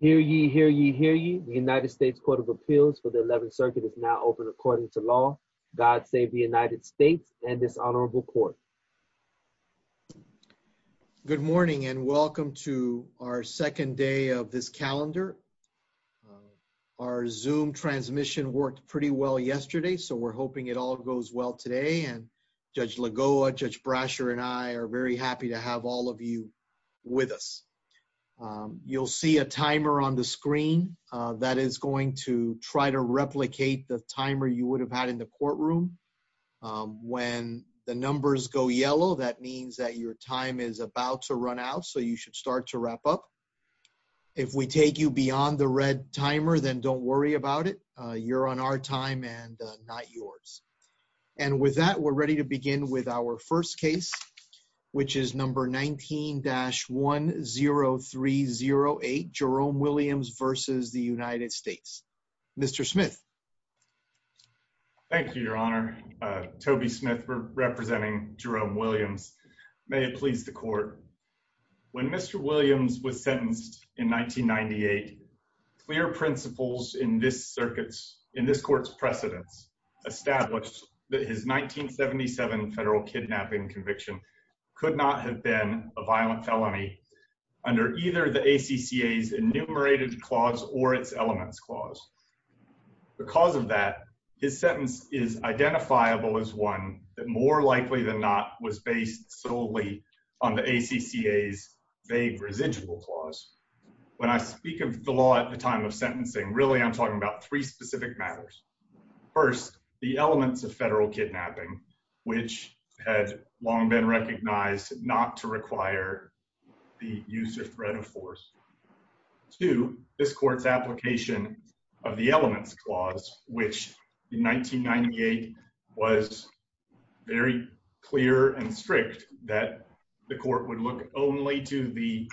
Hear ye, hear ye, hear ye. The United States Court of Appeals for the 11th Circuit is now open according to law. God save the United States and this honorable court. Good morning and welcome to our second day of this calendar. Our Zoom transmission worked pretty well yesterday so we're hoping it all goes well today and Judge Lagoa, Judge Brasher and I are very happy to have all of you with us. You'll see a timer on the screen that is going to try to replicate the timer you would have had in the courtroom. When the numbers go yellow that means that your time is about to run out so you should start to wrap up. If we take you beyond the red timer then don't worry about it. You're on our time and not yours. And with that we're ready to begin with our first case which is number 19-10308, Jerome Williams v. The United States. Mr. Smith. Thank you, Your Honor. Toby Smith representing Jerome Williams. May it please the court. When Mr. Williams was sentenced in 1998, clear principles in this circuit's, in this court's precedence established that his 1977 federal kidnapping conviction could not have been a violent felony under either the ACCA's enumerated clause or its elements clause. Because of that, his sentence is identifiable as one that more likely than not was based solely on the ACCA's vague residual clause. When I speak of the law at the time of sentencing, really I'm talking about three specific matters. First, the sentence had long been recognized not to require the use of threat of force. Two, this court's application of the elements clause which in 1998 was very clear and strict that the court would look only to the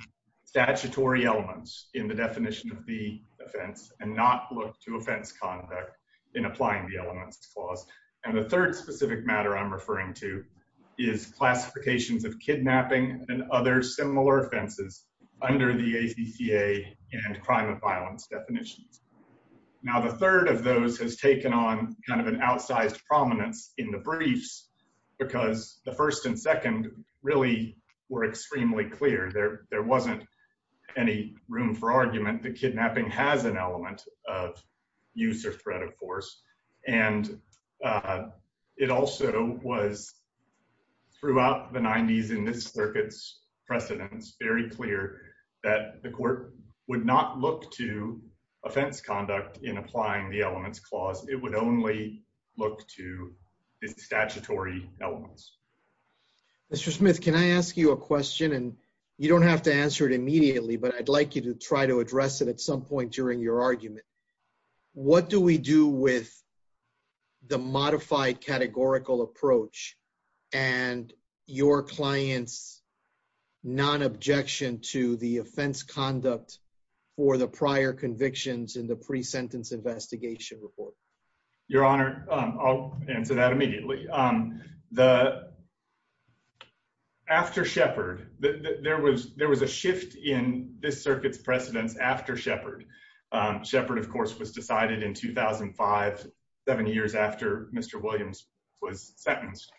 statutory elements in the definition of the offense and not look to offense conduct in applying the definition I'm referring to is classifications of kidnapping and other similar offenses under the ACCA and crime of violence definitions. Now the third of those has taken on kind of an outsized prominence in the briefs because the first and second really were extremely clear. There, there wasn't any room for argument that was throughout the 90s in this circuit's precedents very clear that the court would not look to offense conduct in applying the elements clause. It would only look to the statutory elements. Mr. Smith, can I ask you a question and you don't have to answer it immediately but I'd like you to try to address it at some point during your argument. What do we do with the modified categorical approach and your clients non-objection to the offense conduct for the prior convictions in the pre-sentence investigation report? Your Honor, I'll answer that immediately. The after Shepard, there was there was a shift in this circuit's precedents after Shepard. Shepard of course was decided in 2005 seven years after Mr. Williams was sentenced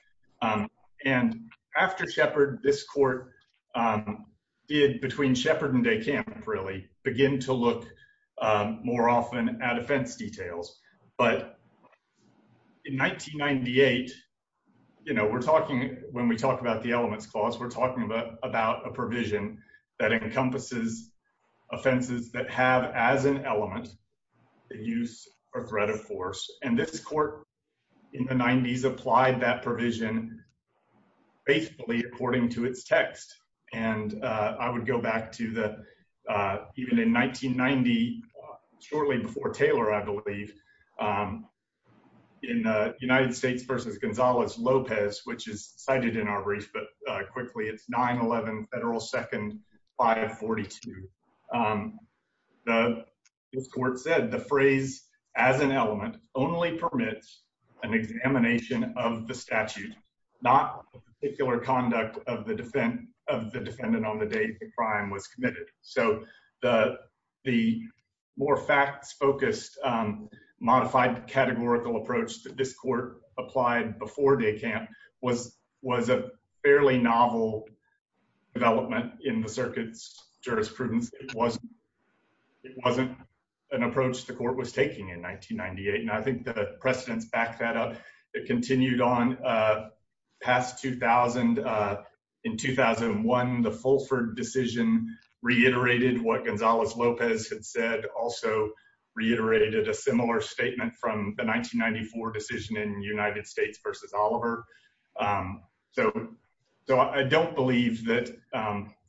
and after Shepard this court did between Shepard and DeCamp really begin to look more often at offense details but in 1998 you know we're talking when we talk about the elements clause we're talking about about a provision that encompasses offenses that have as an element the use or threat of force and this court in the 90s applied that provision basically according to its text and I would go back to the even in 1990 shortly before Taylor I believe in the United States versus Gonzalez Lopez which is cited in our brief but quickly it's 9-11 Federal Second 542 the court said the phrase as an element only permits an examination of the statute not particular conduct of the defendant of the defendant on the day the crime was committed so the the more facts focused modified categorical approach that this court applied before DeCamp was was a fairly novel development in the circuit's jurisprudence it wasn't it wasn't an approach the court was taking in 1998 and I think the precedents back that up it continued on past 2000 in 2001 the Fulford decision reiterated what 1994 decision in United States versus Oliver so I don't believe that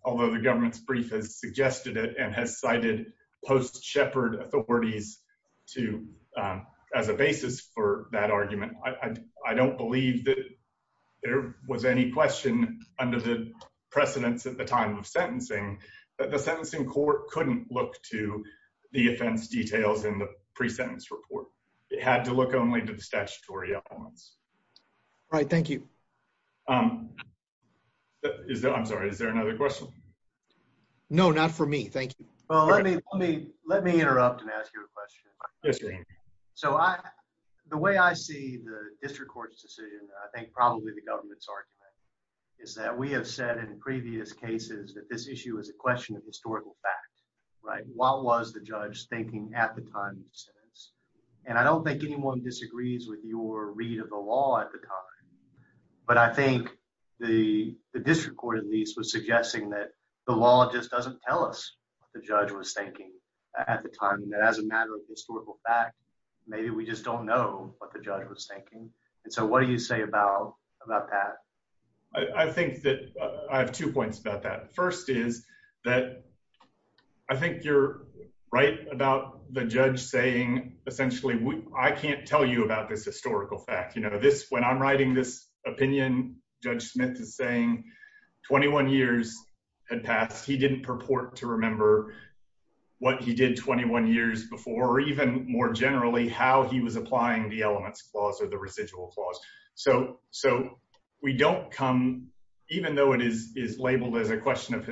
although the government's brief has suggested it and has cited post Shepherd authorities to as a basis for that argument I I don't believe that there was any question under the precedents at the time of sentencing that the sentencing court couldn't look to the offense details in the pre-sentence report it had to look only to the statutory elements right thank you is that I'm sorry is there another question no not for me thank you well let me let me let me interrupt and ask you a question so I the way I see the district court's decision I think probably the government's argument is that we have said in previous cases that this issue is a question of historical fact right what was the judge thinking at the time of sentence and I don't think anyone disagrees with your read of the law at the time but I think the district court at least was suggesting that the law just doesn't tell us the judge was thinking at the time that as a matter of historical fact maybe we just don't know what the judge was thinking and so what do you say about about that I think that I have two points about that first is that I think you're right about the judge saying essentially I can't tell you about this historical fact you know this when I'm writing this opinion judge Smith is saying 21 years had passed he didn't purport to remember what he did 21 years before or even more generally how he was applying the elements clause or the residual clause so so we don't come even though it is is labeled as a question of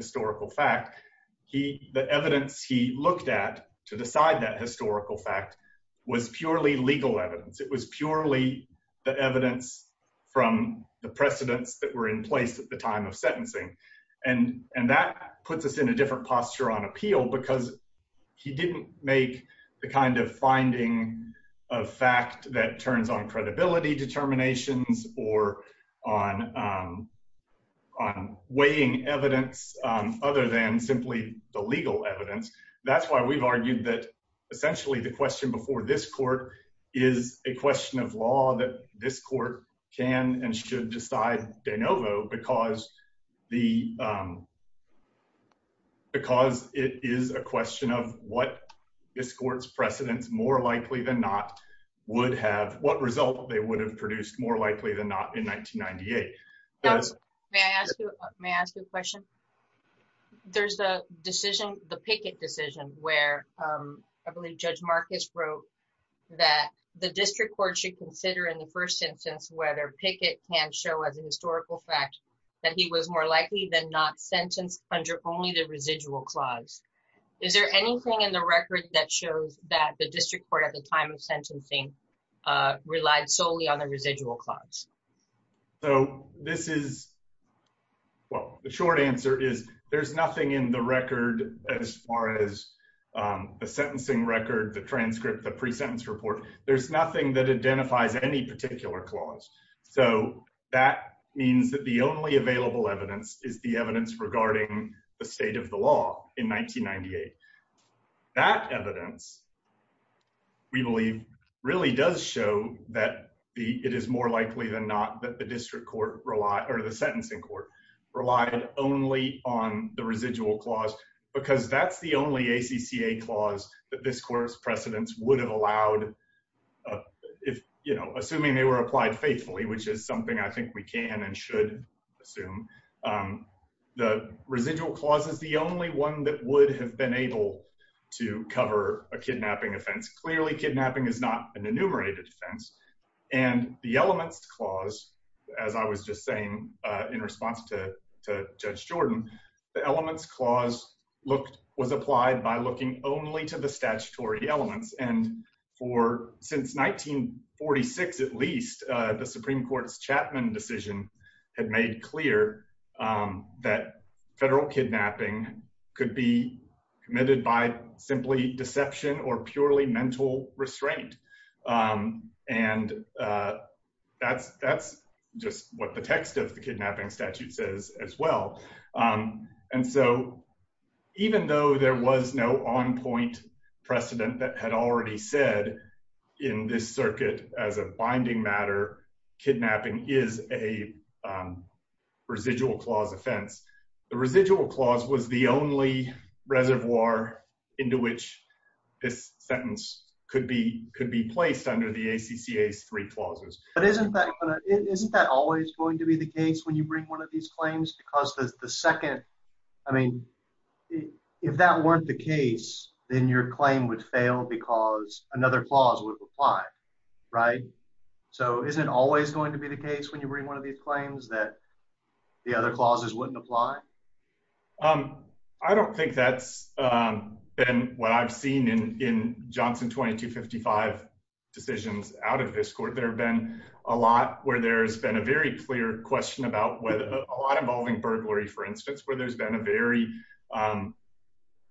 he looked at to decide that historical fact was purely legal evidence it was purely the evidence from the precedents that were in place at the time of sentencing and and that puts us in a different posture on appeal because he didn't make the kind of finding of fact that turns on credibility determinations or on weighing evidence other than simply the legal evidence that's why we've argued that essentially the question before this court is a question of law that this court can and should decide de novo because the because it is a question of what this courts precedents more likely than not would have what result they would have produced more likely than not in 1998 may I ask you a question there's the decision the picket decision where I believe judge Marcus wrote that the district court should consider in the first instance whether picket can show as a historical fact that he was more likely than not sentenced under only the residual clause is there anything in the record that shows that the district court at the sentencing relied solely on the residual clause so this is well the short answer is there's nothing in the record as far as the sentencing record the transcript the pre-sentence report there's nothing that identifies any particular clause so that means that the only available evidence is the evidence regarding the state of the law in 1998 that evidence we believe really does show that the it is more likely than not that the district court rely or the sentencing court relied only on the residual clause because that's the only ACCA clause that this course precedents would have allowed if you know assuming they were applied faithfully which is something I think we can and should assume the residual clause is the only one that would have been able to cover a kidnapping offense clearly kidnapping is not an enumerated defense and the elements clause as I was just saying in response to Judge Jordan the elements clause looked was applied by looking only to the statutory elements and for since 1946 at least the Supreme Court's Chapman decision had made clear that federal kidnapping could be committed by simply deception or purely mental restraint and that's that's just what the text of the kidnapping statute says as well and so even though there was no on-point precedent that had already said in this circuit as a binding matter kidnapping is a residual clause offense the residual clause was the only reservoir into which this sentence could be could be placed under the ACCA three clauses but isn't that isn't that always going to be the case when you bring one of these claims because there's the second I mean if that weren't the case then your claim would fail because another clause would apply right so is it always going to be the case when you bring one of these claims that the other clauses wouldn't apply um I don't think that's been what I've seen in Johnson 2255 decisions out of this court there have been a lot where there's been a very clear question about whether a lot involving burglary for instance where there's been a very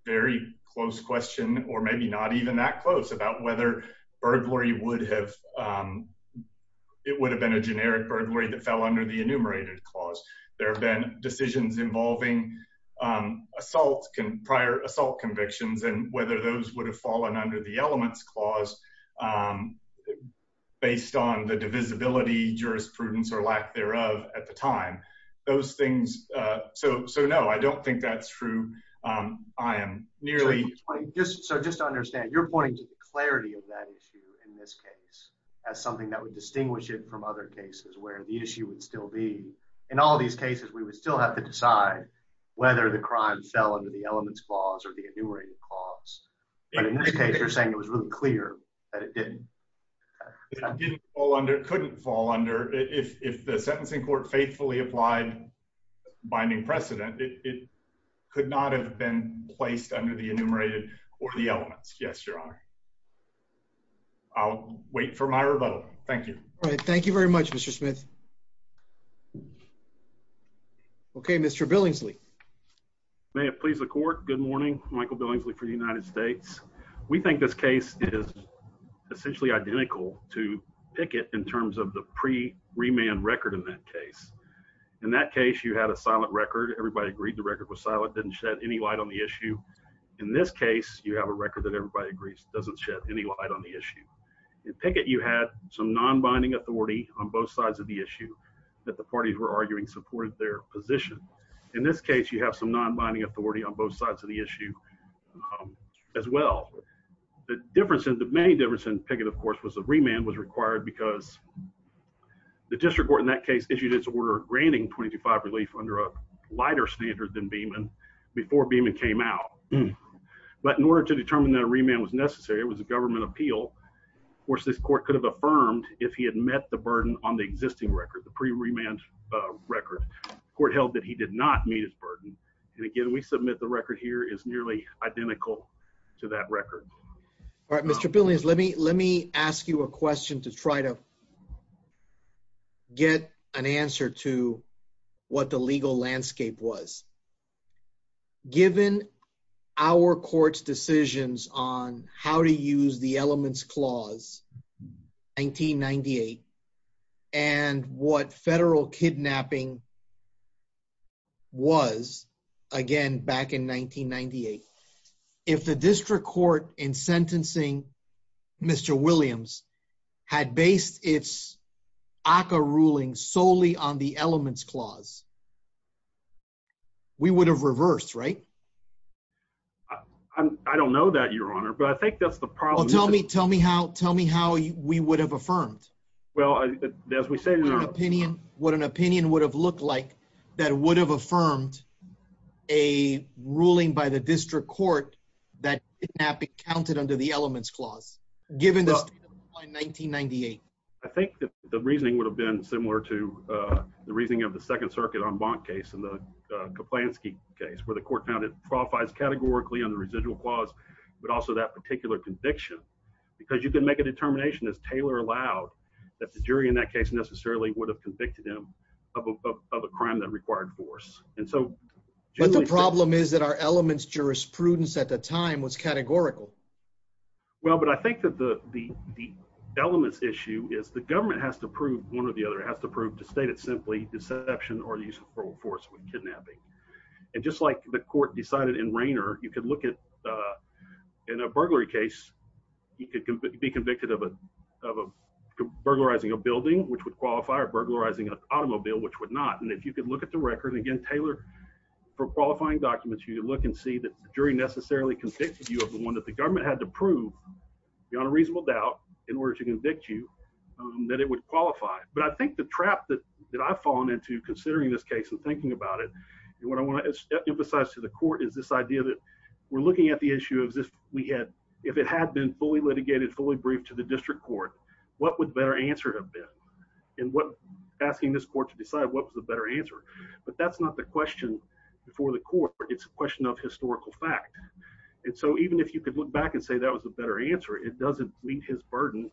very close question or maybe not even that close about whether burglary would have it would have been a generic burglary that fell under the enumerated clause there have been decisions involving assaults can prior assault convictions and whether those would have fallen under the elements clause based on the divisibility jurisprudence or lack thereof at the time those things so so I don't think that's true I am nearly just so just to understand you're pointing to the clarity of that issue in this case as something that would distinguish it from other cases where the issue would still be in all these cases we would still have to decide whether the crime fell under the elements clause or the enumerated clause but in this case you're saying it was really clear that it didn't fall under couldn't fall under if the sentencing court faithfully applied binding precedent it could not have been placed under the enumerated or the elements yes your honor I'll wait for my rebuttal thank you all right thank you very much mr. Smith okay mr. Billingsley may it please the court good morning Michael Billingsley for the United States we think this case is essentially identical to picket in terms of the pre remand record in that case in that case you had a silent record everybody agreed the record was silent didn't shed any light on the issue in this case you have a record that everybody agrees doesn't shed any light on the issue in picket you had some non-binding authority on both sides of the issue that the parties were arguing supported their position in this case you have some non-binding authority on both sides of the issue as well the difference in the main difference in picket of course was a remand was required because the district court in that case issued its order granting 22-5 relief under a lighter standard than Beeman before Beeman came out but in order to determine that a remand was necessary it was a government appeal of course this court could have affirmed if he had met the burden on the existing record the pre remand record court held that he did not meet his burden and again we submit the record here is nearly identical to that record all right mr. billions let me let me ask you a question to try to get an answer to what the legal landscape was given our courts decisions on how to use the elements clause 1998 and what federal kidnapping was again back in 1998 if the district court in sentencing mr. Williams had based its ACA ruling solely on the elements clause we would have reversed right I don't know that your honor but I think that's the problem tell me tell me how tell me how we would have affirmed well as we said in our opinion what an opinion would have looked like that would have affirmed a ruling by the 1998 I think that the reasoning would have been similar to the reasoning of the Second Circuit on bond case and the Kaplansky case where the court found it qualifies categorically on the residual clause but also that particular conviction because you can make a determination as Taylor allowed that the jury in that case necessarily would have convicted him of a crime that required force and so the problem is that our elements jurisprudence at the time was elements issue is the government has to prove one or the other has to prove to state it simply deception or the use of force with kidnapping and just like the court decided in Rainer you could look at in a burglary case you could be convicted of a burglarizing a building which would qualify or burglarizing an automobile which would not and if you could look at the record again Taylor for qualifying documents you look and see that jury necessarily convicted you of the one that the government had to prove beyond a reasonable doubt in order to convict you that it would qualify but I think the trap that that I've fallen into considering this case and thinking about it and what I want to emphasize to the court is this idea that we're looking at the issue of this we had if it had been fully litigated fully briefed to the district court what would better answer have been and what asking this court to decide what was the better answer but that's not the question before the court it's a back and say that was a better answer it doesn't meet his burden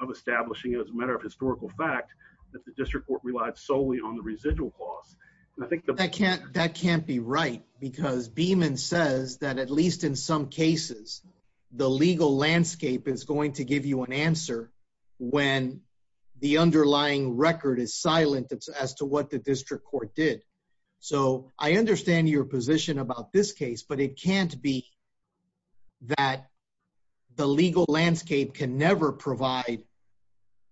of establishing it as a matter of historical fact that the district court relied solely on the residual cost I think that can't that can't be right because Beeman says that at least in some cases the legal landscape is going to give you an answer when the underlying record is silent it's as to what the district court did so I understand your position about this case but it can't be that the legal landscape can never provide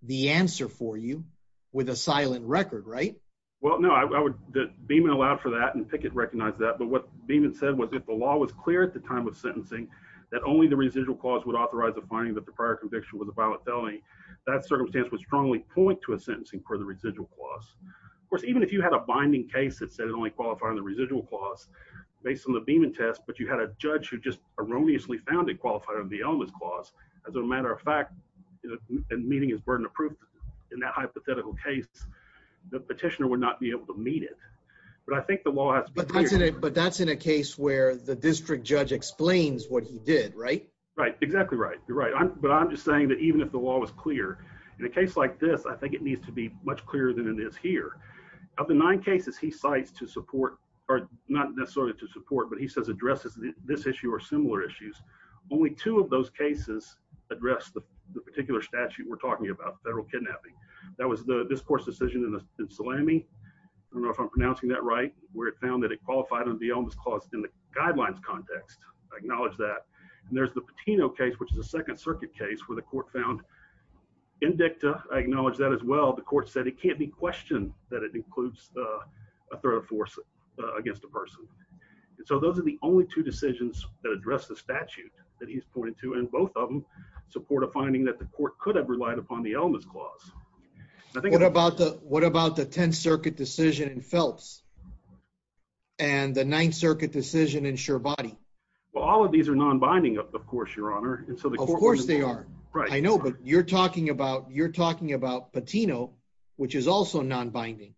the answer for you with a silent record right well no I would that Beeman allowed for that and picket recognized that but what Beeman said was if the law was clear at the time of sentencing that only the residual clause would authorize a finding that the prior conviction with a violent felony that circumstance would strongly point to a sentencing for the binding case that said it only qualify on the residual clause based on the Beeman test but you had a judge who just erroneously found it qualified on the elements clause as a matter of fact and meeting is burden of proof in that hypothetical case the petitioner would not be able to meet it but I think the law but that's in a case where the district judge explains what he did right right exactly right you're right but I'm just saying that even if the law was clear in a case like this I think it needs to be much clearer than it is here of the nine cases he cites to support or not necessarily to support but he says addresses this issue or similar issues only two of those cases address the particular statute we're talking about federal kidnapping that was the discourse decision in the salami I don't know if I'm pronouncing that right where it found that it qualified on the almost caused in the guidelines context I acknowledge that and there's the patino case which is a Second Circuit case where the court found indicta I acknowledge that as well the court said it can't be questioned that it includes a threat of force against a person and so those are the only two decisions that address the statute that he's pointed to and both of them support a finding that the court could have relied upon the elements clause I think what about the what about the Tenth Circuit decision in Phelps and the Ninth Circuit decision in sure body well all of these are non-binding up of course your honor and so the course they are right I know but you're talking about you're talking about patino which is also non-binding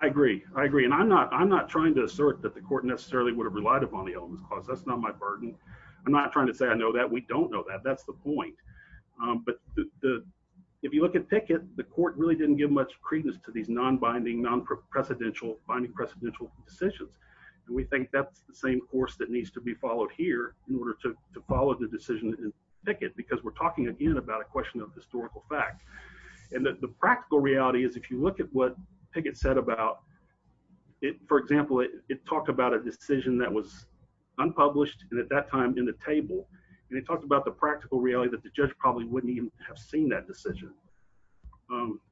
I agree I agree and I'm not I'm not trying to assert that the court necessarily would have relied upon the elements cause that's not my burden I'm not trying to say I know that we don't know that that's the point but the if you look at picket the court really didn't give much credence to these non-binding non-precedential finding precedential decisions and we think that's the same course that needs to be followed here in order to follow the decision in picket because we're and that the practical reality is if you look at what picket said about it for example it talked about a decision that was unpublished and at that time in the table and he talked about the practical reality that the judge probably wouldn't even have seen that decision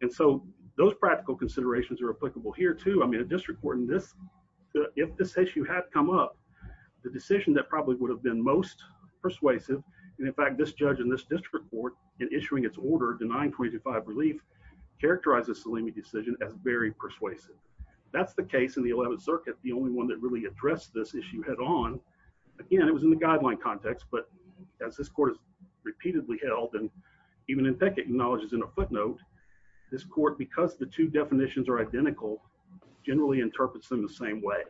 and so those practical considerations are applicable here too I mean a district court in this if this issue had come up the decision that probably would have been most persuasive and in fact this 925 relief characterizes Salimi decision as very persuasive that's the case in the 11th Circuit the only one that really addressed this issue head-on again it was in the guideline context but as this court is repeatedly held and even in picket acknowledges in a footnote this court because the two definitions are identical generally interprets them the same way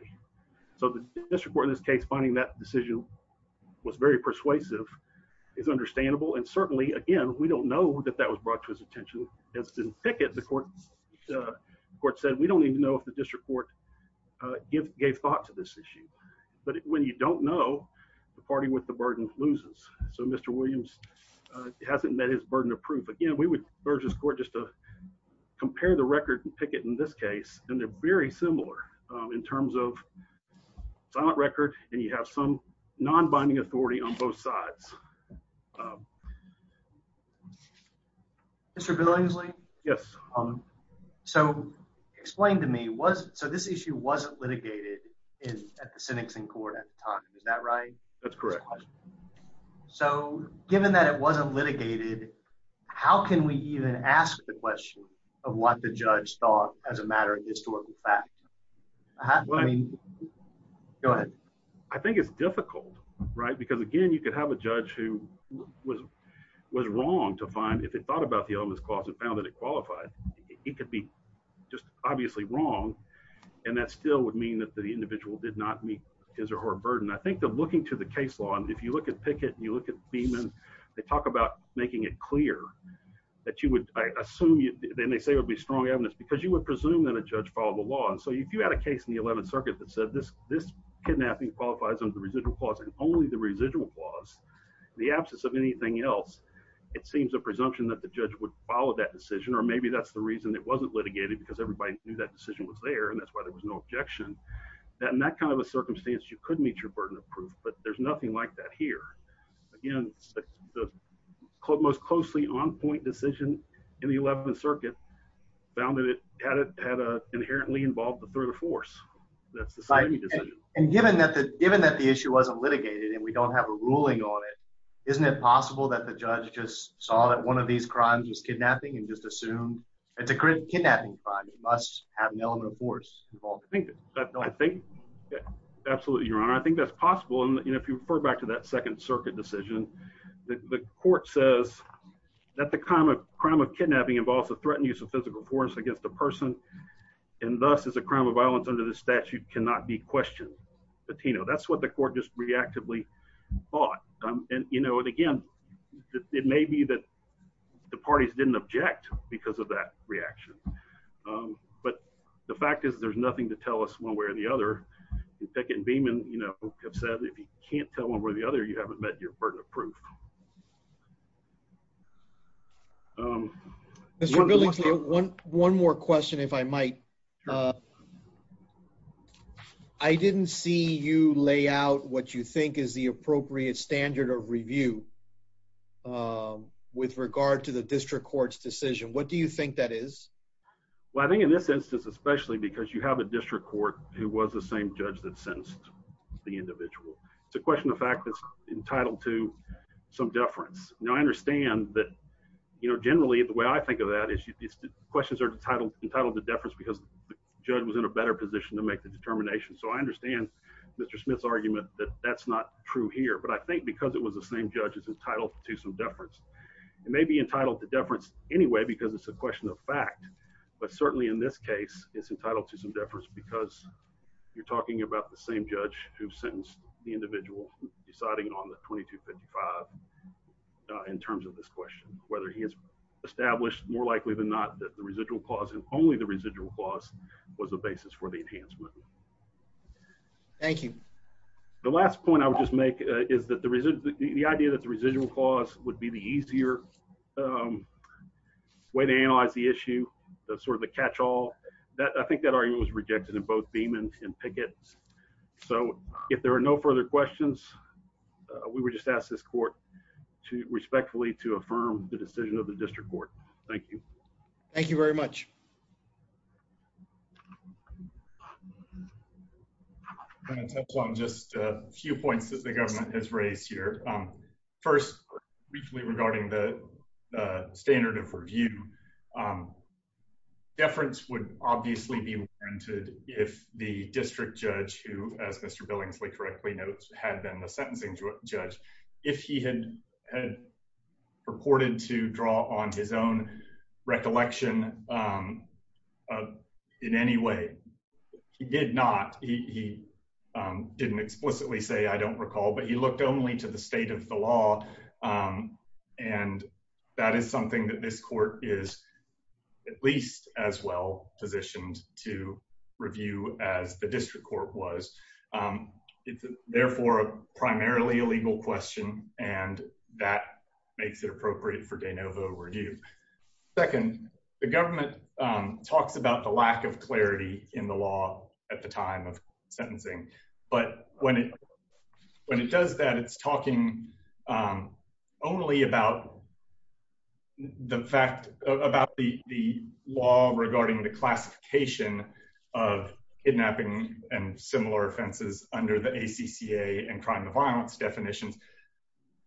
so the district court in this case finding that decision was very persuasive it's attention has been picket the court court said we don't even know if the district court if gave thought to this issue but when you don't know the party with the burden loses so mr. Williams hasn't met his burden of proof again we would urge this court just to compare the record and picket in this case and they're very similar in terms of silent record and you have some non-binding authority on both sides mr. Billingsley yes um so explain to me was so this issue wasn't litigated in at the sentencing court at the time is that right that's correct so given that it wasn't litigated how can we even ask the question of what the judge thought as a matter of historical fact go ahead I because again you could have a judge who was was wrong to find if they thought about the elements closet found that it qualified it could be just obviously wrong and that still would mean that the individual did not meet his or her burden I think they're looking to the case law and if you look at picket and you look at beam and they talk about making it clear that you would I assume you then they say would be strong evidence because you would presume that a judge follow the law and so if you had a case in the 11th Circuit that said this this kidnapping qualifies under residual clause and only the residual clause the absence of anything else it seems a presumption that the judge would follow that decision or maybe that's the reason it wasn't litigated because everybody knew that decision was there and that's why there was no objection that in that kind of a circumstance you couldn't meet your burden of proof but there's nothing like that here again the club most closely on point decision in the 11th Circuit found that it had a inherently involved the third of force that's the site and given that the given that the issue wasn't litigated and we don't have a ruling on it isn't it possible that the judge just saw that one of these crimes was kidnapping and just assumed it's a kidnapping crime it must have an element of force I think I think absolutely your honor I think that's possible and if you refer back to that Second Circuit decision the court says that the common crime of kidnapping involves a threatened use of physical force against the person and thus is a crime of violence under the statute cannot be questioned but you know that's what the court just reactively thought and you know and again it may be that the parties didn't object because of that reaction but the fact is there's nothing to tell us one way or the other you take it and beam and you know have said if you can't tell one way or the other you haven't met your burden of proof one one more question if I might I didn't see you lay out what you think is the appropriate standard of review with regard to the district courts decision what do you think that is well I think in this instance especially because you have a district court who was the same judge that sentenced the individual it's a question of fact that's entitled to some deference now I understand that you know generally the way I think of that is you these questions are entitled entitled to deference because the judge was in a better position to make the determination so I understand mr. Smith's argument that that's not true here but I think because it was the same judges entitled to some deference it may be entitled to deference anyway because it's a question of fact but certainly in this case it's entitled to some deference because you're talking about the same judge who sentenced the individual deciding on the 2255 in terms of this question whether he has established more likely than not that the residual clause and only the residual clause was a basis for the enhancement thank you the last point I would just make is that the reason the idea that the residual clause would be the easier way to analyze the issue that's sort of the catch-all that I think that argument was rejected in both Beeman's and Pickett's so if there are no further questions we were just asked this court to respectfully to affirm the decision of the district court thank you thank you very much just a few points that the government has raised here first regarding the standard of review deference would obviously be rented if the district judge who as mr. Billingsley correctly notes had been the sentencing judge if he had purported to draw on his own recollection in any way he did not he didn't explicitly say I don't recall but he looked only to the state of the law and that is something that this court is at least as well positioned to review as the district court was it's therefore a primarily illegal question and that makes it appropriate for de novo review second the government talks about the lack of clarity in the law at the time of sentencing but when it when it does that it's talking only about the fact about the the law regarding the classification of kidnapping and similar offenses under the ACCA and crime of violence definitions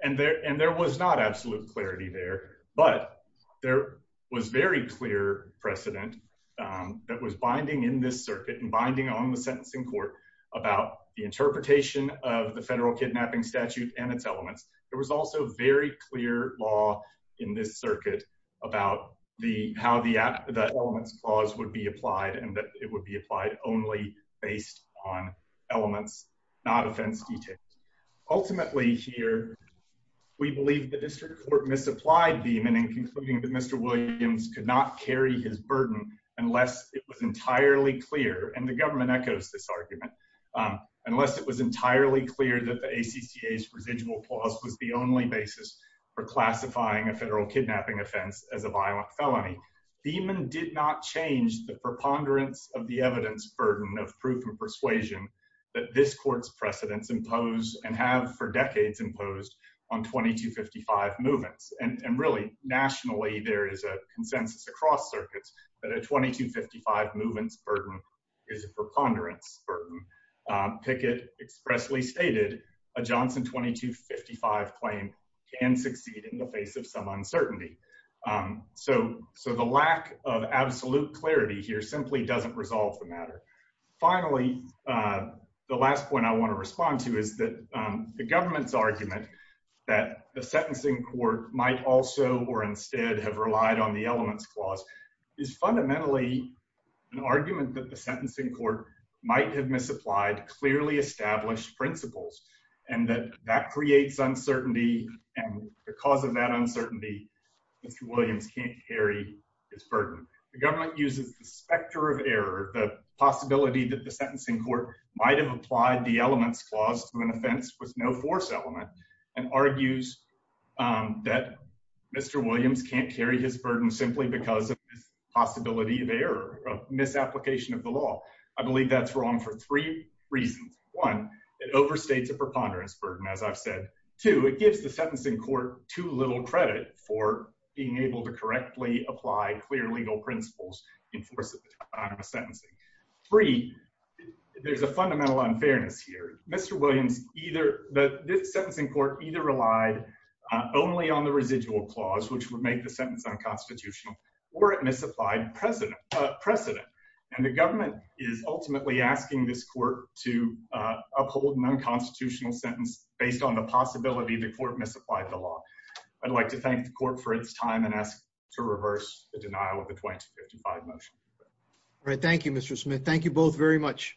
and there and there was not absolute clarity there but there was very clear precedent that was binding in this circuit and binding on the sentencing court about the interpretation of the federal kidnapping statute and its elements there was also very clear law in this circuit about the how the elements clause would be applied and that it would be applied only based on elements not offense details ultimately here we believe the district court misapplied beam and in concluding that mr. Williams could not carry his burden unless it was entirely clear and the government echoes this argument unless it was entirely clear that the ACCA's residual clause was the only basis for classifying a federal kidnapping offense as a violent felony demon did not change the preponderance of the evidence burden of proof and persuasion that this courts precedents impose and have for decades imposed on 2255 movements and really nationally there is a consensus across circuits but a 2255 movements burden is a preponderance burden picket expressly stated a Johnson 2255 claim can succeed in the face of some uncertainty so so the lack of absolute clarity here simply doesn't resolve the matter finally the last point I want to respond to is that the government's argument that the sentencing court might also or instead have relied on the elements clause is fundamentally an argument that the sentencing court might have misapplied clearly established principles and that that creates uncertainty and because of that uncertainty mr. Williams can't carry his burden the government uses the specter of error the possibility that the sentencing court might have applied the elements clause to an offense with no force element and argues that mr. Williams can't carry his burden simply because of possibility of error misapplication of the law I believe that's wrong for three reasons one it overstates a preponderance burden as I've said two it gives the sentencing court too little credit for being able to correctly apply clear legal principles in force of the time of sentencing three there's a fundamental unfairness here mr. Williams either that this sentencing court either relied only on the residual clause which would make the sentence unconstitutional or it misapplied president precedent and the government is ultimately asking this court to uphold an unconstitutional sentence based on the possibility the court misapplied the law I'd like to thank the court for its time and ask to reverse the denial of the 2055 motion all right thank you mr. Smith thank you both very much